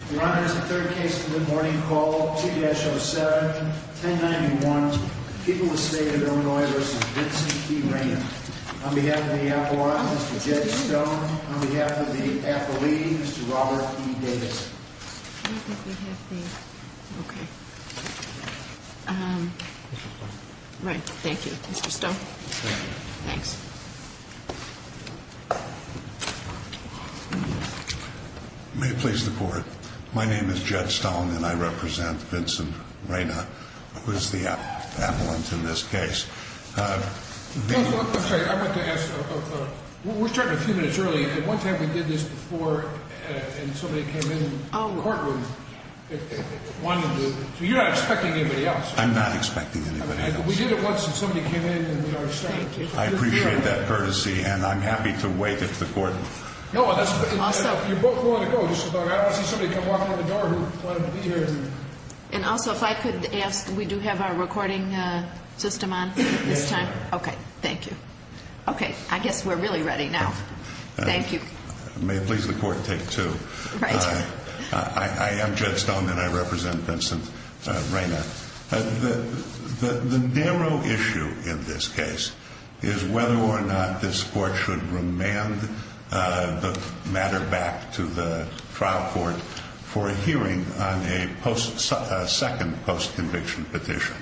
on behalf of the athlete, Mr. Robert E. Davis. Right. Thank you, Mr. Stone. Thanks. May it please the court. My name is Jed Stone and I represent Vincent Reyna, who is the appellant in this case. We're starting a few minutes early. One time we did this before and somebody came in the courtroom. You're not expecting anybody else. I'm not expecting anybody else. We did it once and somebody came in. I appreciate that courtesy and I'm happy to wait at the court. And also, if I could ask, we do have our recording system on this time. Okay. Thank you. Okay. I guess we're really ready now. Thank you. May it please the court. Take two. I am Jed Stone and I represent Vincent Reyna. The narrow issue in this case is whether or not this court should remand the matter back to the trial court for a hearing on a second post-conviction petition.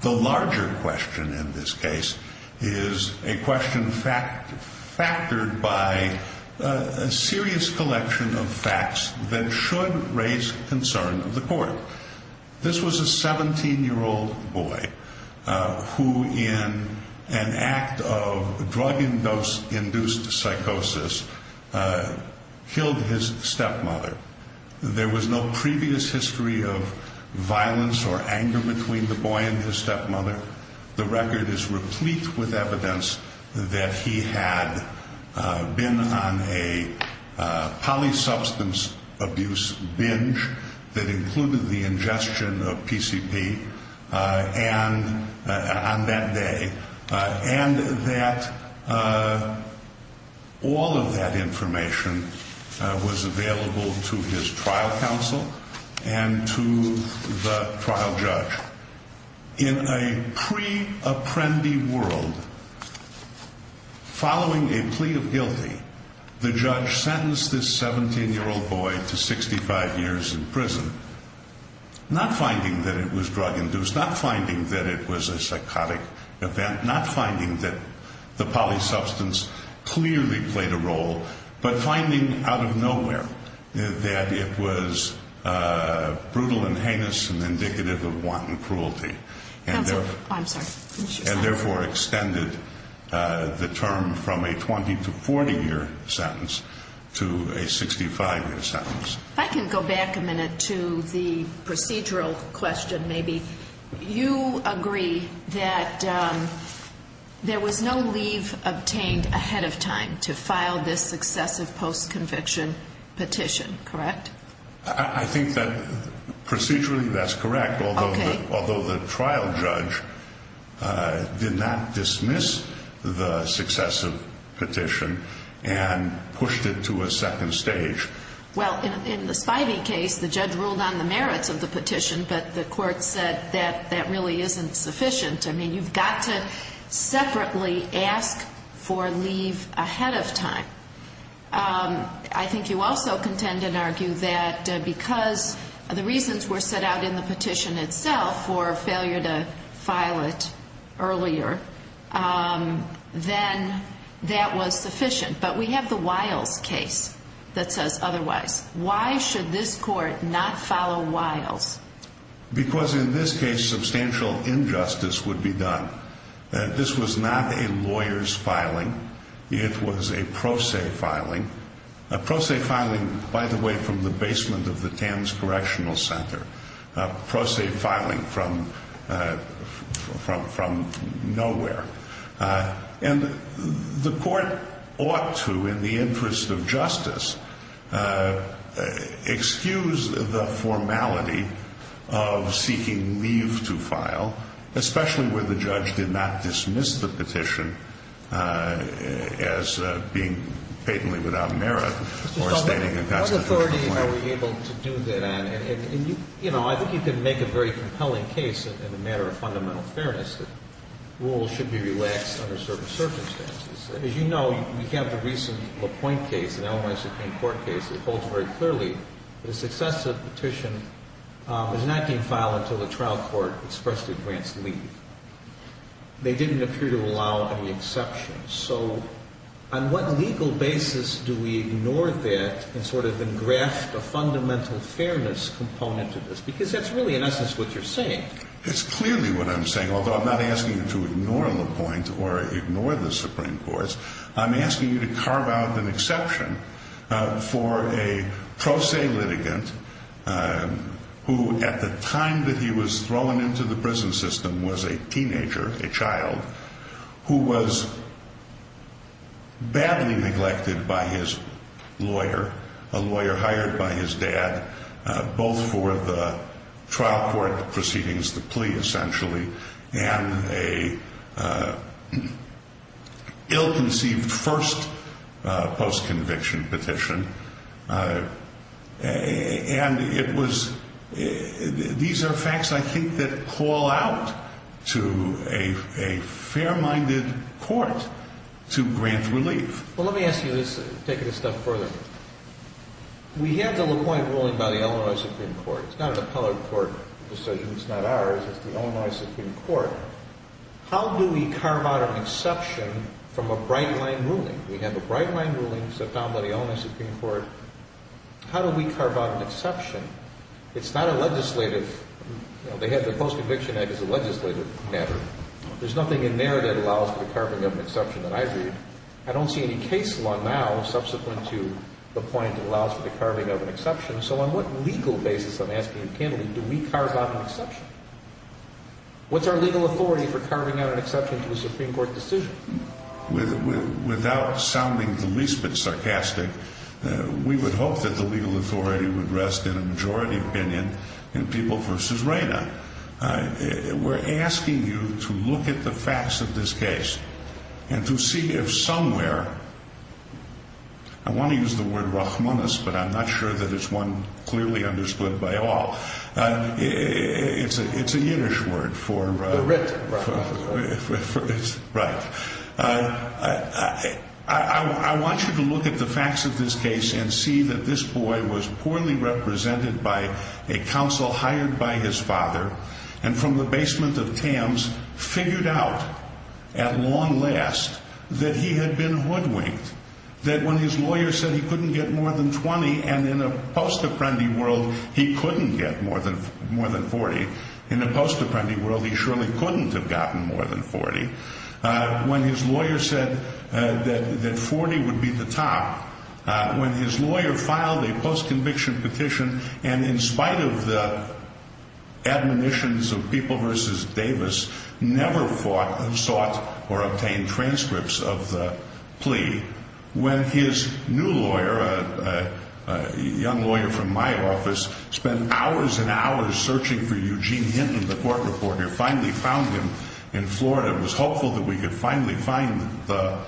The larger question in this case is a question factored by a serious collection of facts that should raise concern of the court. This was a 17-year-old boy who, in an act of drug-induced psychosis, killed his stepmother. There was no previous history of violence or anger between the boy and his stepmother. The record is replete with evidence that he had been on a polysubstance abuse binge that included the ingestion of PCP on that day. And that all of that information was available to his trial counsel and to the trial judge. In a pre-apprendi world, following a plea of guilty, the judge sentenced this 17-year-old boy to 65 years in prison, not finding that it was drug-induced, not finding that it was a psychotic event, not finding that the polysubstance clearly played a role, but finding out of nowhere that it was brutal and heinous and indicative of wanton cruelty. And therefore extended the term from a 20- to 40-year sentence to a 65-year sentence. If I can go back a minute to the procedural question, maybe. You agree that there was no leave obtained ahead of time to file this successive post-conviction petition, correct? I think that procedurally that's correct, although the trial judge did not dismiss the successive petition and pushed it to a second stage. Well, in the Spivey case, the judge ruled on the merits of the petition, but the court said that that really isn't sufficient. I mean, you've got to separately ask for leave ahead of time. I think you also contend and argue that because the reasons were set out in the petition itself for failure to file it earlier, then that was sufficient. But we have the Wiles case that says otherwise. Why should this court not follow Wiles? Because in this case substantial injustice would be done. This was not a lawyer's filing. It was a pro se filing. A pro se filing, by the way, from the basement of the Tams Correctional Center. A pro se filing from nowhere. And the court ought to, in the interest of justice, excuse the formality of seeking leave to file, especially where the judge did not dismiss the petition as being patently without merit. What authority are we able to do that on? And, you know, I think you can make a very compelling case in the matter of fundamental fairness that rules should be relaxed under certain circumstances. As you know, we have the recent LaPointe case, an Illinois Supreme Court case, that holds very clearly that a successive petition was not being filed until the trial court expressed it grants leave. They didn't appear to allow any exceptions. So on what legal basis do we ignore that and sort of engraft a fundamental fairness component to this? Because that's really, in essence, what you're saying. It's clearly what I'm saying, although I'm not asking you to ignore LaPointe or ignore the Supreme Court. I'm asking you to carve out an exception for a pro se litigant who at the time that he was thrown into the prison system was a teenager, a child, who was badly neglected by his lawyer, a lawyer hired by his dad, both for the trial court proceedings, the plea essentially, and a ill-conceived first post-conviction petition. And it was these are facts, I think, that call out to a fair-minded court to grant relief. Well, let me ask you this, taking this stuff further. We have the LaPointe ruling by the Illinois Supreme Court. It's not an appellate court decision. It's not ours. It's the Illinois Supreme Court. How do we carve out an exception from a bright-line ruling? We have a bright-line ruling set down by the Illinois Supreme Court. How do we carve out an exception? It's not a legislative. They have the Post-Conviction Act as a legislative matter. There's nothing in there that allows for the carving of an exception that I agreed. I don't see any case law now subsequent to LaPointe that allows for the carving of an exception. So on what legal basis, I'm asking you candidly, do we carve out an exception? What's our legal authority for carving out an exception to a Supreme Court decision? Without sounding the least bit sarcastic, we would hope that the legal authority would rest in a majority opinion in People v. Reyna. We're asking you to look at the facts of this case and to see if somewhere I want to use the word Rachmaninoff, but I'm not sure that it's one clearly understood by all. It's a Yiddish word for... The writ. Right. I want you to look at the facts of this case and see that this boy was poorly represented by a counsel hired by his father and from the basement of Tams figured out at long last that he had been hoodwinked. That when his lawyer said he couldn't get more than 20 and in a post-apprendi world he couldn't get more than 40, in a post-apprendi world he surely couldn't have gotten more than 40, when his lawyer said that 40 would be the top, when his lawyer filed a post-conviction petition and in spite of the admonitions of People v. Davis never sought or obtained transcripts of the plea, when his new lawyer, a young lawyer from my office, spent hours and hours searching for Eugene Hinton, the court reporter, finally found him in Florida and was hopeful that we could finally find the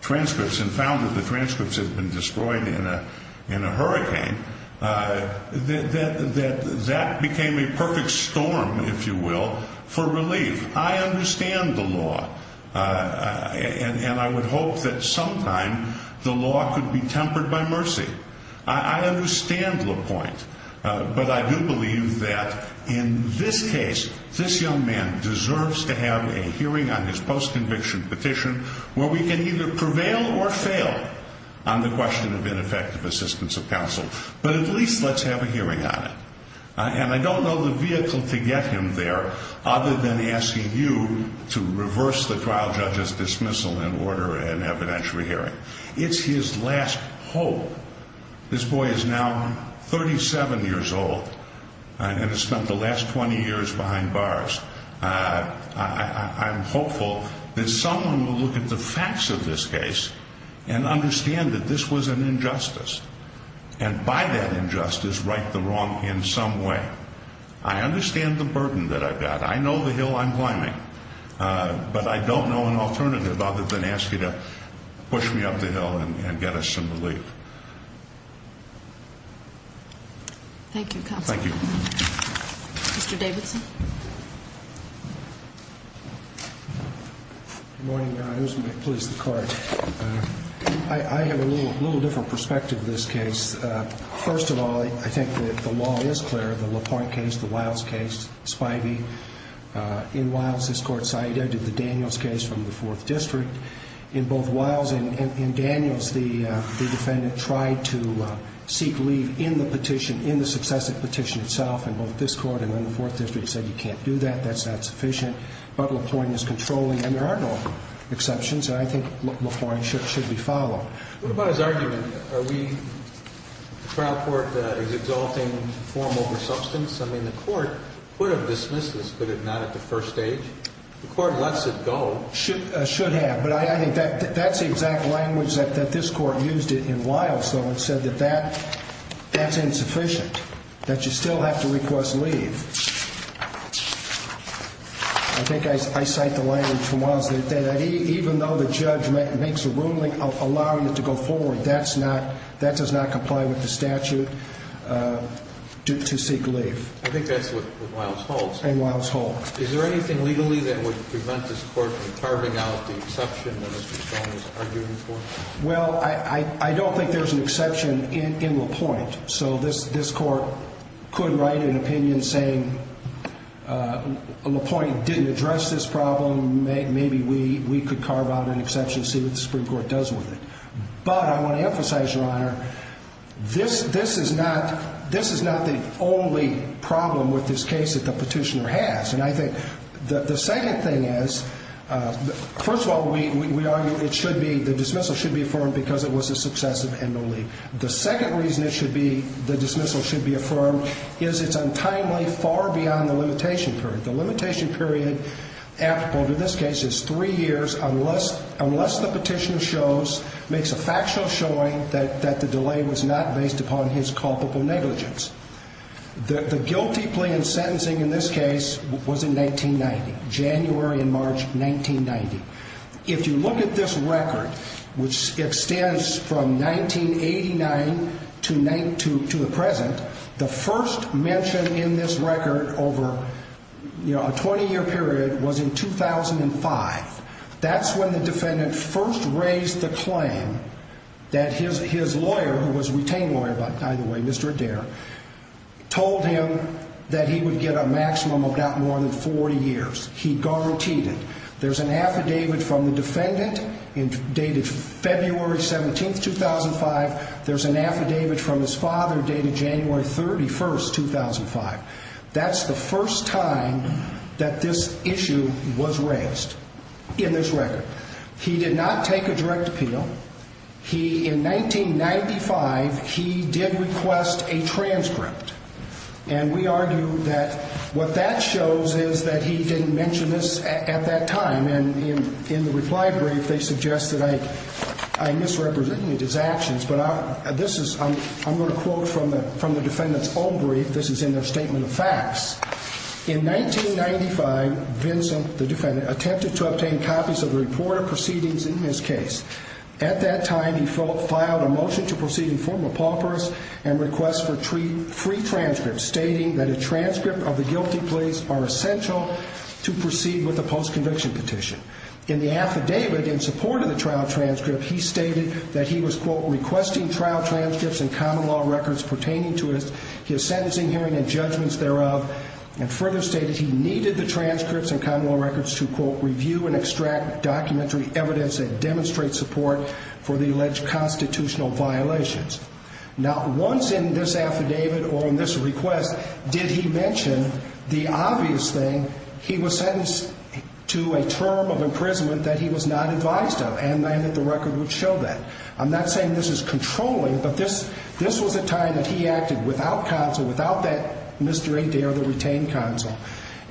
transcripts and found that the transcripts had been destroyed in a hurricane, that that became a perfect storm, if you will, for relief. I understand the law and I would hope that sometime the law could be tempered by mercy. I understand LaPointe, but I do believe that in this case, this young man deserves to have a hearing on his post-conviction petition where we can either prevail or fail on the question of ineffective assistance of counsel, but at least let's have a hearing on it. And I don't know the vehicle to get him there other than asking you to reverse the trial judge's dismissal and order an evidentiary hearing. It's his last hope. This boy is now 37 years old and has spent the last 20 years behind bars. I'm hopeful that someone will look at the facts of this case and understand that this was an injustice and by that injustice right the wrong in some way. I understand the burden that I've got. I know the hill I'm climbing, but I don't know an alternative other than ask you to push me up the hill and get us some relief. Thank you, counsel. Thank you. Mr. Davidson. Good morning, Your Honors. Please, the card. I have a little different perspective of this case. First of all, I think that the law is clear. The LaPointe case, the Wiles case, Spivey. In Wiles, this court cited the Daniels case from the 4th District. In both Wiles and Daniels, the defendant tried to seek leave in the petition, in the successive petition itself, and both this court and then the 4th District said you can't do that, that's not sufficient. But LaPointe is controlling, and there are no exceptions. I think LaPointe should be followed. What about his argument? The trial court is exalting form over substance. I mean, the court could have dismissed this, but not at the first stage. The court lets it go. Should have, but I think that's the exact language that this court used in Wiles, though, and said that that's insufficient, that you still have to request leave. I think I cite the language from Wiles that even though the judge makes a ruling allowing it to go forward, that does not comply with the statute to seek leave. I think that's what Wiles holds. And Wiles holds. Is there anything legally that would prevent this court from carving out the exception that Mr. Stone is arguing for? Well, I don't think there's an exception in LaPointe. So this court could write an opinion saying LaPointe didn't address this problem, maybe we could carve out an exception, see what the Supreme Court does with it. But I want to emphasize, Your Honor, this is not the only problem with this case that the petitioner has. And I think the second thing is, first of all, we argue it should be, the dismissal should be affirmed because it was a successive and no leave. The second reason it should be, the dismissal should be affirmed, is it's untimely far beyond the limitation period. The limitation period applicable to this case is three years unless the petitioner makes a factual showing that the delay was not based upon his culpable negligence. The guilty plea in sentencing in this case was in 1990, January and March 1990. If you look at this record, which extends from 1989 to the present, the first mention in this record over a 20-year period was in 2005. That's when the defendant first raised the claim that his lawyer, who was a retained lawyer by the way, Mr. Adair, told him that he would get a maximum of about more than 40 years. He guaranteed it. There's an affidavit from the defendant dated February 17, 2005. There's an affidavit from his father dated January 31, 2005. That's the first time that this issue was raised in this record. He did not take a direct appeal. He, in 1995, he did request a transcript. We argue that what that shows is that he didn't mention this at that time. In the reply brief, they suggest that I misrepresented his actions. I'm going to quote from the defendant's own brief. This is in their statement of facts. In 1995, Vincent, the defendant, attempted to obtain copies of the reported proceedings in his case. At that time, he filed a motion to proceed in formal paupers and request for free transcripts, stating that a transcript of the guilty pleas are essential to proceed with the post-conviction petition. In the affidavit, in support of the trial transcript, he stated that he was, quote, requesting trial transcripts and common law records pertaining to his sentencing, hearing, and judgments thereof, and further stated he needed the transcripts and common law records to, quote, review and extract documentary evidence that demonstrates support for the alleged constitutional violations. Now, once in this affidavit or in this request did he mention the obvious thing, he was sentenced to a term of imprisonment that he was not advised of, and that the record would show that. I'm not saying this is controlling, but this was a time that he acted without counsel, without that Mr. Adair, the retained counsel.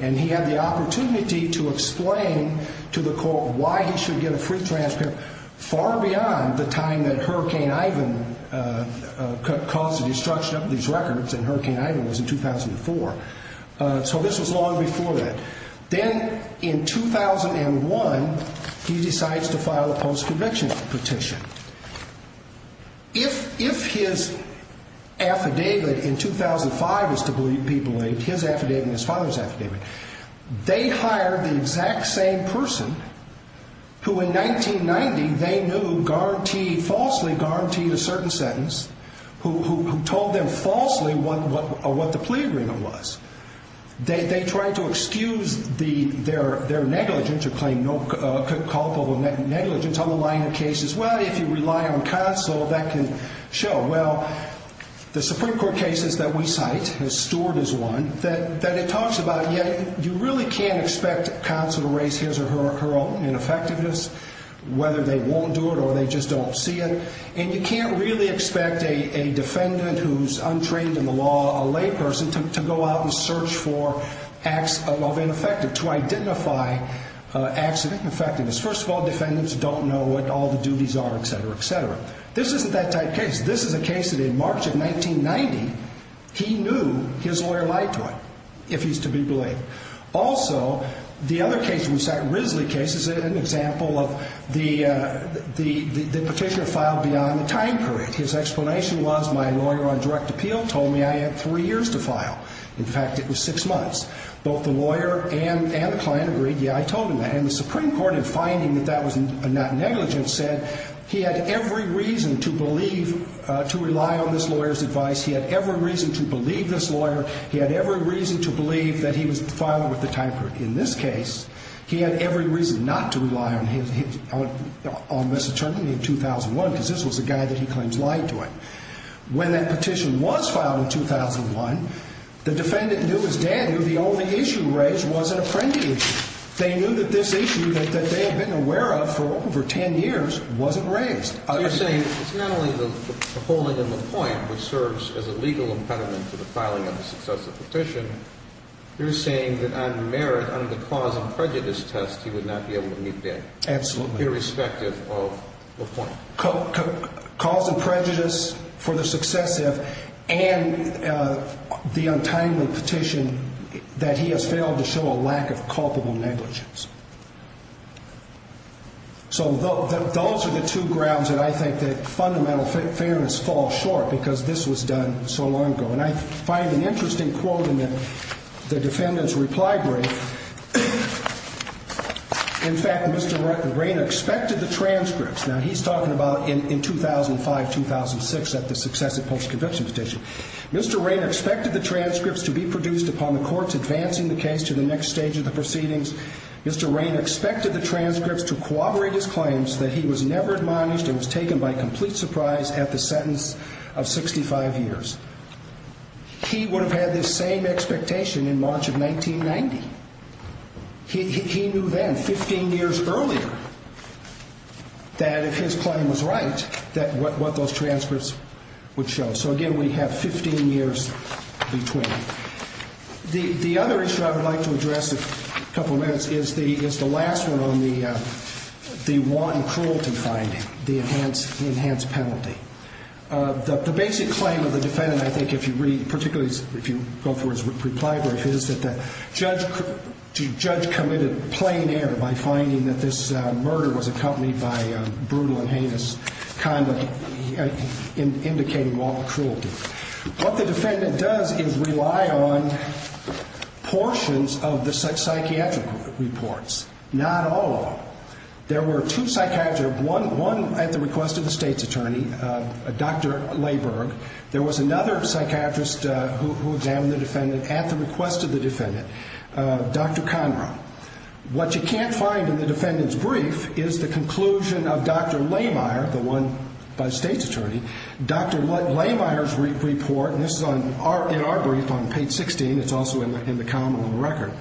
And he had the opportunity to explain to the court why he should get a free transcript far beyond the time that Hurricane Ivan caused the destruction of these records, and Hurricane Ivan was in 2004. So this was long before that. Then in 2001, he decides to file a post-conviction petition. If his affidavit in 2005 is to believe people, his affidavit and his father's affidavit, they hired the exact same person who in 1990 they knew falsely guaranteed a certain sentence, who told them falsely what the plea agreement was. They tried to excuse their negligence or claim no culpable negligence on the line of cases. Well, if you rely on counsel, that can show. Well, the Supreme Court cases that we cite, Stuart is one, that it talks about, yet you really can't expect counsel to raise his or her own ineffectiveness, whether they won't do it or they just don't see it. And you can't really expect a defendant who's untrained in the law, a layperson, to go out and search for acts of ineffectiveness, to identify acts of ineffectiveness. First of all, defendants don't know what all the duties are, etc., etc. This isn't that type of case. This is a case that in March of 1990, he knew his lawyer lied to him, if he's to be believed. Also, the other case we cite, Risley case, is an example of the petitioner filed beyond the time period. His explanation was, my lawyer on direct appeal told me I had three years to file. In fact, it was six months. Both the lawyer and the client agreed, yeah, I told him that. And the Supreme Court, in finding that that was not negligent, said he had every reason to believe, to rely on this lawyer's advice, he had every reason to believe this lawyer, he had every reason to believe that he was filed with the time period. In this case, he had every reason not to rely on this attorney in 2001 because this was the guy that he claims lied to him. When that petition was filed in 2001, the defendant knew his dad, who the only issue raised, was an apprentice. They knew that this issue that they had been aware of for over ten years wasn't raised. So you're saying it's not only the holding in LaPointe, which serves as a legal impediment to the filing of a successive petition, you're saying that on merit, under the cause and prejudice test, he would not be able to meet bail. Absolutely. Irrespective of LaPointe. Cause and prejudice for the successive, and the untimely petition, that he has failed to show a lack of culpable negligence. So those are the two grounds that I think that fundamental fairness falls short, because this was done so long ago. And I find an interesting quote in the defendant's reply brief. In fact, Mr. Rayner expected the transcripts. Now he's talking about in 2005-2006 at the successive post-conviction petition. Mr. Rayner expected the transcripts to be produced upon the courts advancing the case to the next stage of the proceedings. Mr. Rayner expected the transcripts to corroborate his claims that he was never admonished and was taken by complete surprise at the sentence of 65 years. He would have had this same expectation in March of 1990. He knew then, 15 years earlier, that if his claim was right, that what those transcripts would show. So again, we have 15 years between. The other issue I would like to address in a couple of minutes is the last one on the one cruelty finding. The enhanced penalty. The basic claim of the defendant, I think, if you read, particularly if you go through his reply brief, is that the judge committed plain error by finding that this murder was accompanied by brutal and heinous conduct, indicating lawful cruelty. What the defendant does is rely on portions of the psychiatric reports, not all of them. There were two psychiatrists, one at the request of the state's attorney, Dr. Layberg. There was another psychiatrist who examined the defendant at the request of the defendant, Dr. Conroe. What you can't find in the defendant's brief is the conclusion of Dr. Laymeier, the one by the state's attorney. Dr. Laymeier's report, and this is in our brief on page 16, it's also in the common law record.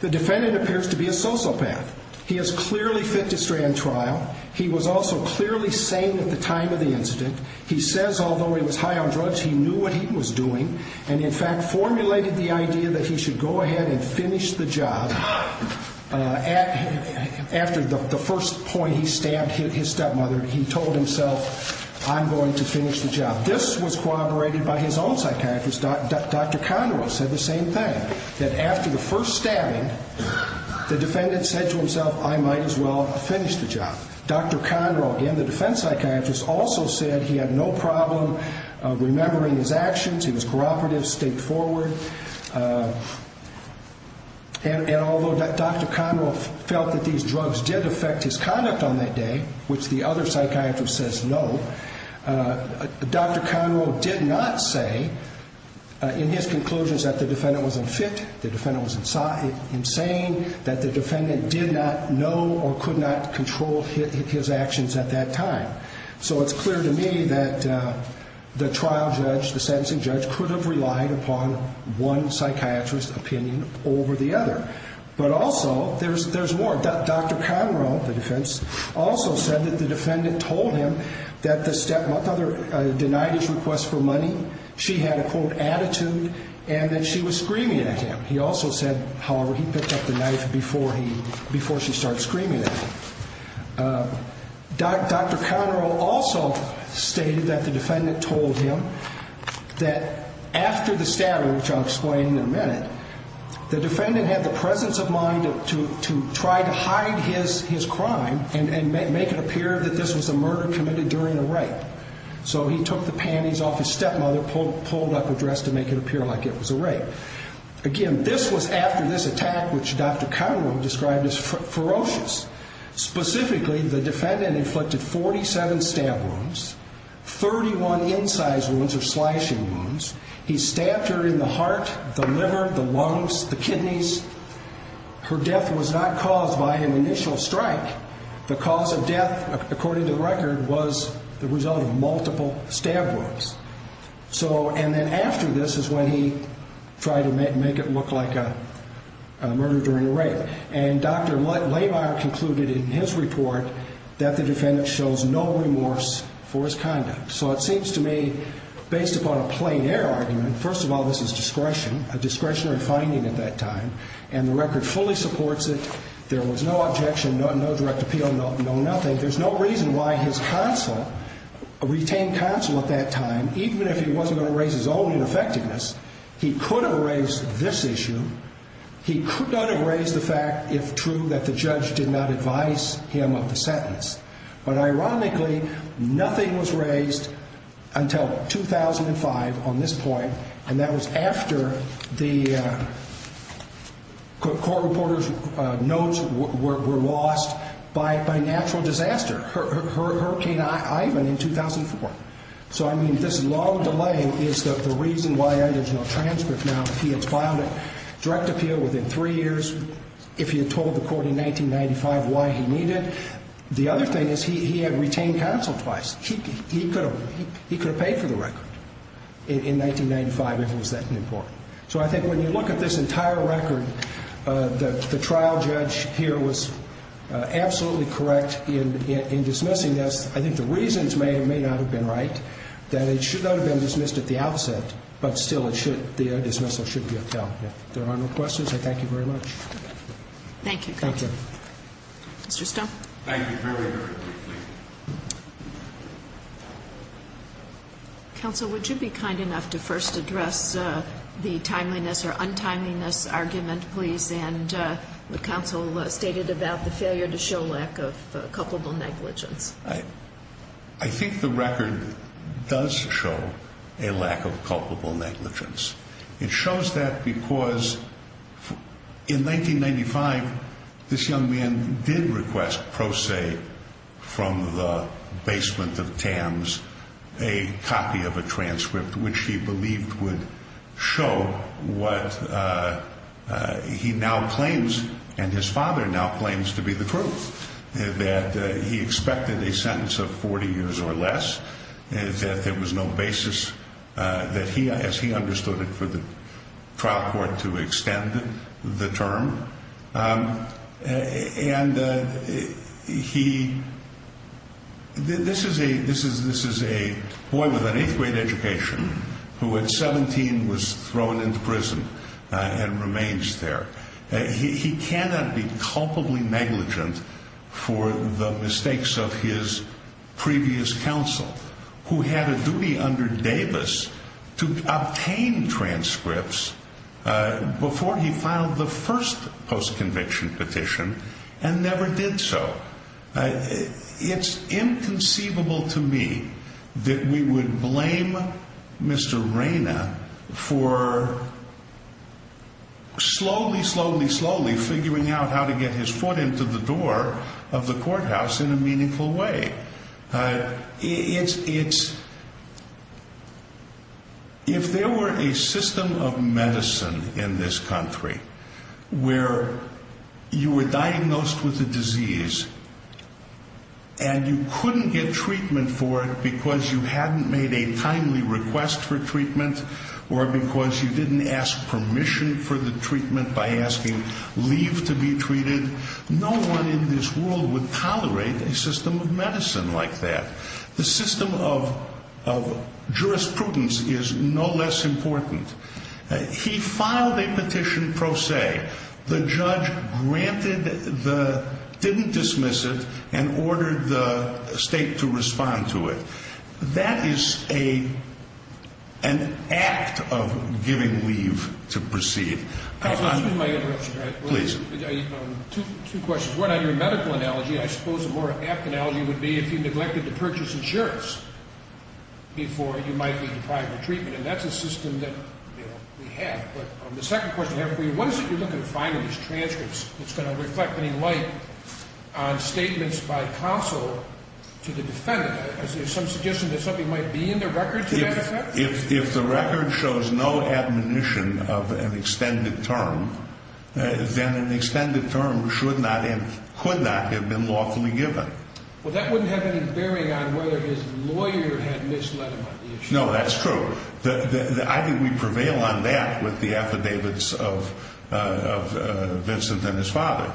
The defendant appears to be a sociopath. He is clearly fit to stray on trial. He was also clearly sane at the time of the incident. He says, although he was high on drugs, he knew what he was doing and, in fact, formulated the idea that he should go ahead and finish the job after the first point he stabbed his stepmother. He told himself, I'm going to finish the job. This was corroborated by his own psychiatrist, Dr. Conroe, said the same thing, that after the first stabbing, the defendant said to himself, I might as well finish the job. Dr. Conroe, again, the defense psychiatrist, also said he had no problem remembering his actions. He was cooperative, straightforward. And although Dr. Conroe felt that these drugs did affect his conduct on that day, which the other psychiatrist says no, Dr. Conroe did not say in his conclusions that the defendant was unfit, the defendant was insane, that the defendant did not know or could not control his actions at that time. So it's clear to me that the trial judge, the sentencing judge, could have relied upon one psychiatrist's opinion over the other. But also, there's more. Dr. Conroe, the defense, also said that the defendant told him that the stepmother denied his request for money, she had a, quote, attitude, and that she was screaming at him. He also said, however, he picked up the knife before she started screaming at him. Dr. Conroe also stated that the defendant told him that after the stabbing, which I'll explain in a minute, the defendant had the presence of mind to try to hide his crime and make it appear that this was a murder committed during a rape. So he took the panties off his stepmother, pulled up her dress to make it appear like it was a rape. Again, this was after this attack, which Dr. Conroe described as ferocious. Specifically, the defendant inflicted 47 stab wounds, 31 incise wounds or slashing wounds. He stabbed her in the heart, the liver, the lungs, the kidneys. Her death was not caused by an initial strike. The cause of death, according to the record, was the result of multiple stab wounds. So, and then after this is when he tried to make it look like a murder during a rape. And Dr. Lamar concluded in his report that the defendant shows no remorse for his conduct. So it seems to me, based upon a plein air argument, first of all, this is discretion, a discretionary finding at that time, and the record fully supports it. There was no objection, no direct appeal, no nothing. There's no reason why his counsel, a retained counsel at that time, even if he wasn't going to raise his own ineffectiveness, he could have raised this issue. He could not have raised the fact, if true, that the judge did not advise him of the sentence. But ironically, nothing was raised until 2005 on this point, and that was after the court reporter's notes were lost by natural disaster, Hurricane Ivan in 2004. So, I mean, this long delay is the reason why there's no transcript now. He had filed a direct appeal within three years, if he had told the court in 1995 why he needed. The other thing is he had retained counsel twice. He could have paid for the record in 1995 if it was that important. So I think when you look at this entire record, the trial judge here was absolutely correct in dismissing this. I think the reasons may or may not have been right, that it should not have been dismissed at the outset, but still the dismissal should be upheld. If there are no questions, I thank you very much. Thank you. Thank you. Mr. Stone. Thank you very much. Counsel, would you be kind enough to first address the timeliness or untimeliness argument, please, and what counsel stated about the failure to show lack of culpable negligence? I think the record does show a lack of culpable negligence. It shows that because in 1995 this young man did request pro se from the basement of TAMS a copy of a transcript, which he believed would show what he now claims and his father now claims to be the proof, that he expected a sentence of 40 years or less, that there was no basis, as he understood it, for the trial court to extend the term. And this is a boy with an eighth grade education who at 17 was thrown into prison and remains there. He cannot be culpably negligent for the mistakes of his previous counsel, who had a duty under Davis to obtain transcripts before he filed the first post-conviction petition and never did so. It's inconceivable to me that we would blame Mr. Reina for slowly, slowly, slowly figuring out how to get his foot into the door of the courthouse in a meaningful way. If there were a system of medicine in this country where you were diagnosed with a disease and you couldn't get treatment for it because you hadn't made a timely request for treatment or because you didn't ask permission for the treatment by asking leave to be treated, no one in this world would tolerate a system of medicine like that. The system of jurisprudence is no less important. He filed a petition pro se. The judge granted the, didn't dismiss it, and ordered the state to respond to it. That is an act of giving leave to proceed. Excuse my interruption, Your Honor. Please. Two questions. One, on your medical analogy, I suppose a more apt analogy would be if you neglected to purchase insurance before you might be deprived of treatment, and that's a system that we have. But the second question I have for you, what is it you're looking to find in these transcripts that's going to reflect any light on statements by counsel to the defendant? Is there some suggestion that something might be in the record to that effect? If the record shows no admonition of an extended term, then an extended term should not and could not have been lawfully given. Well, that wouldn't have any bearing on whether his lawyer had misled him on the issue. No, that's true. I think we prevail on that with the affidavits of Vincent and his father,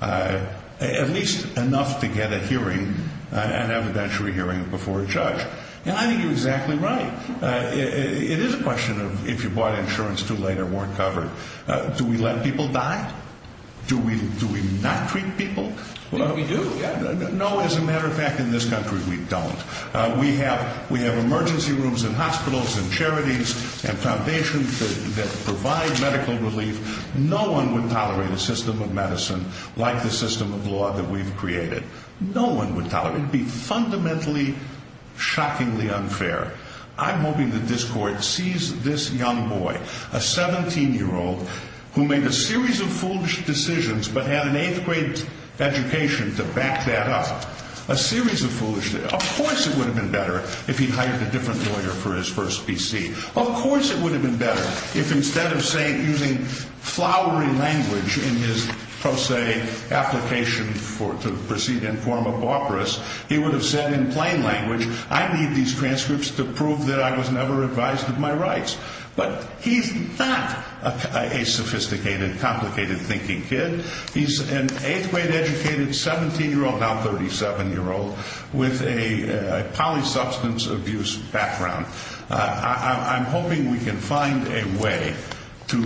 at least enough to get a hearing, an evidentiary hearing before a judge. And I think you're exactly right. It is a question of if you bought insurance too late or weren't covered, do we let people die? Do we not treat people? I think we do. No, as a matter of fact, in this country we don't. We have emergency rooms in hospitals and charities and foundations that provide medical relief. No one would tolerate a system of medicine like the system of law that we've created. No one would tolerate it. It would be fundamentally, shockingly unfair. I'm hoping that this Court sees this young boy, a 17-year-old, who made a series of foolish decisions but had an eighth-grade education to back that up. A series of foolish decisions. Of course it would have been better if he'd hired a different lawyer for his first PC. Of course it would have been better if instead of using flowery language in his pro se application to proceed in form of barbarous, he would have said in plain language, I need these transcripts to prove that I was never advised of my rights. But he's not a sophisticated, complicated-thinking kid. He's an eighth-grade educated 17-year-old, now 37-year-old, with a polysubstance abuse background. I'm hoping we can find a way to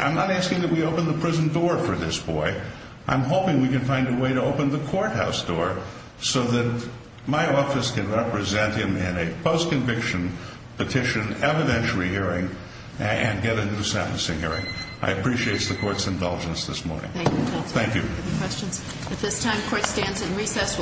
I'm not asking that we open the prison door for this boy. I'm hoping we can find a way to open the courthouse door so that my office can represent him in a post-conviction petition evidentiary hearing and get a new sentencing hearing. I appreciate the Court's indulgence this morning. Thank you, counsel. Thank you. Any questions? At this time, the Court stands in recess.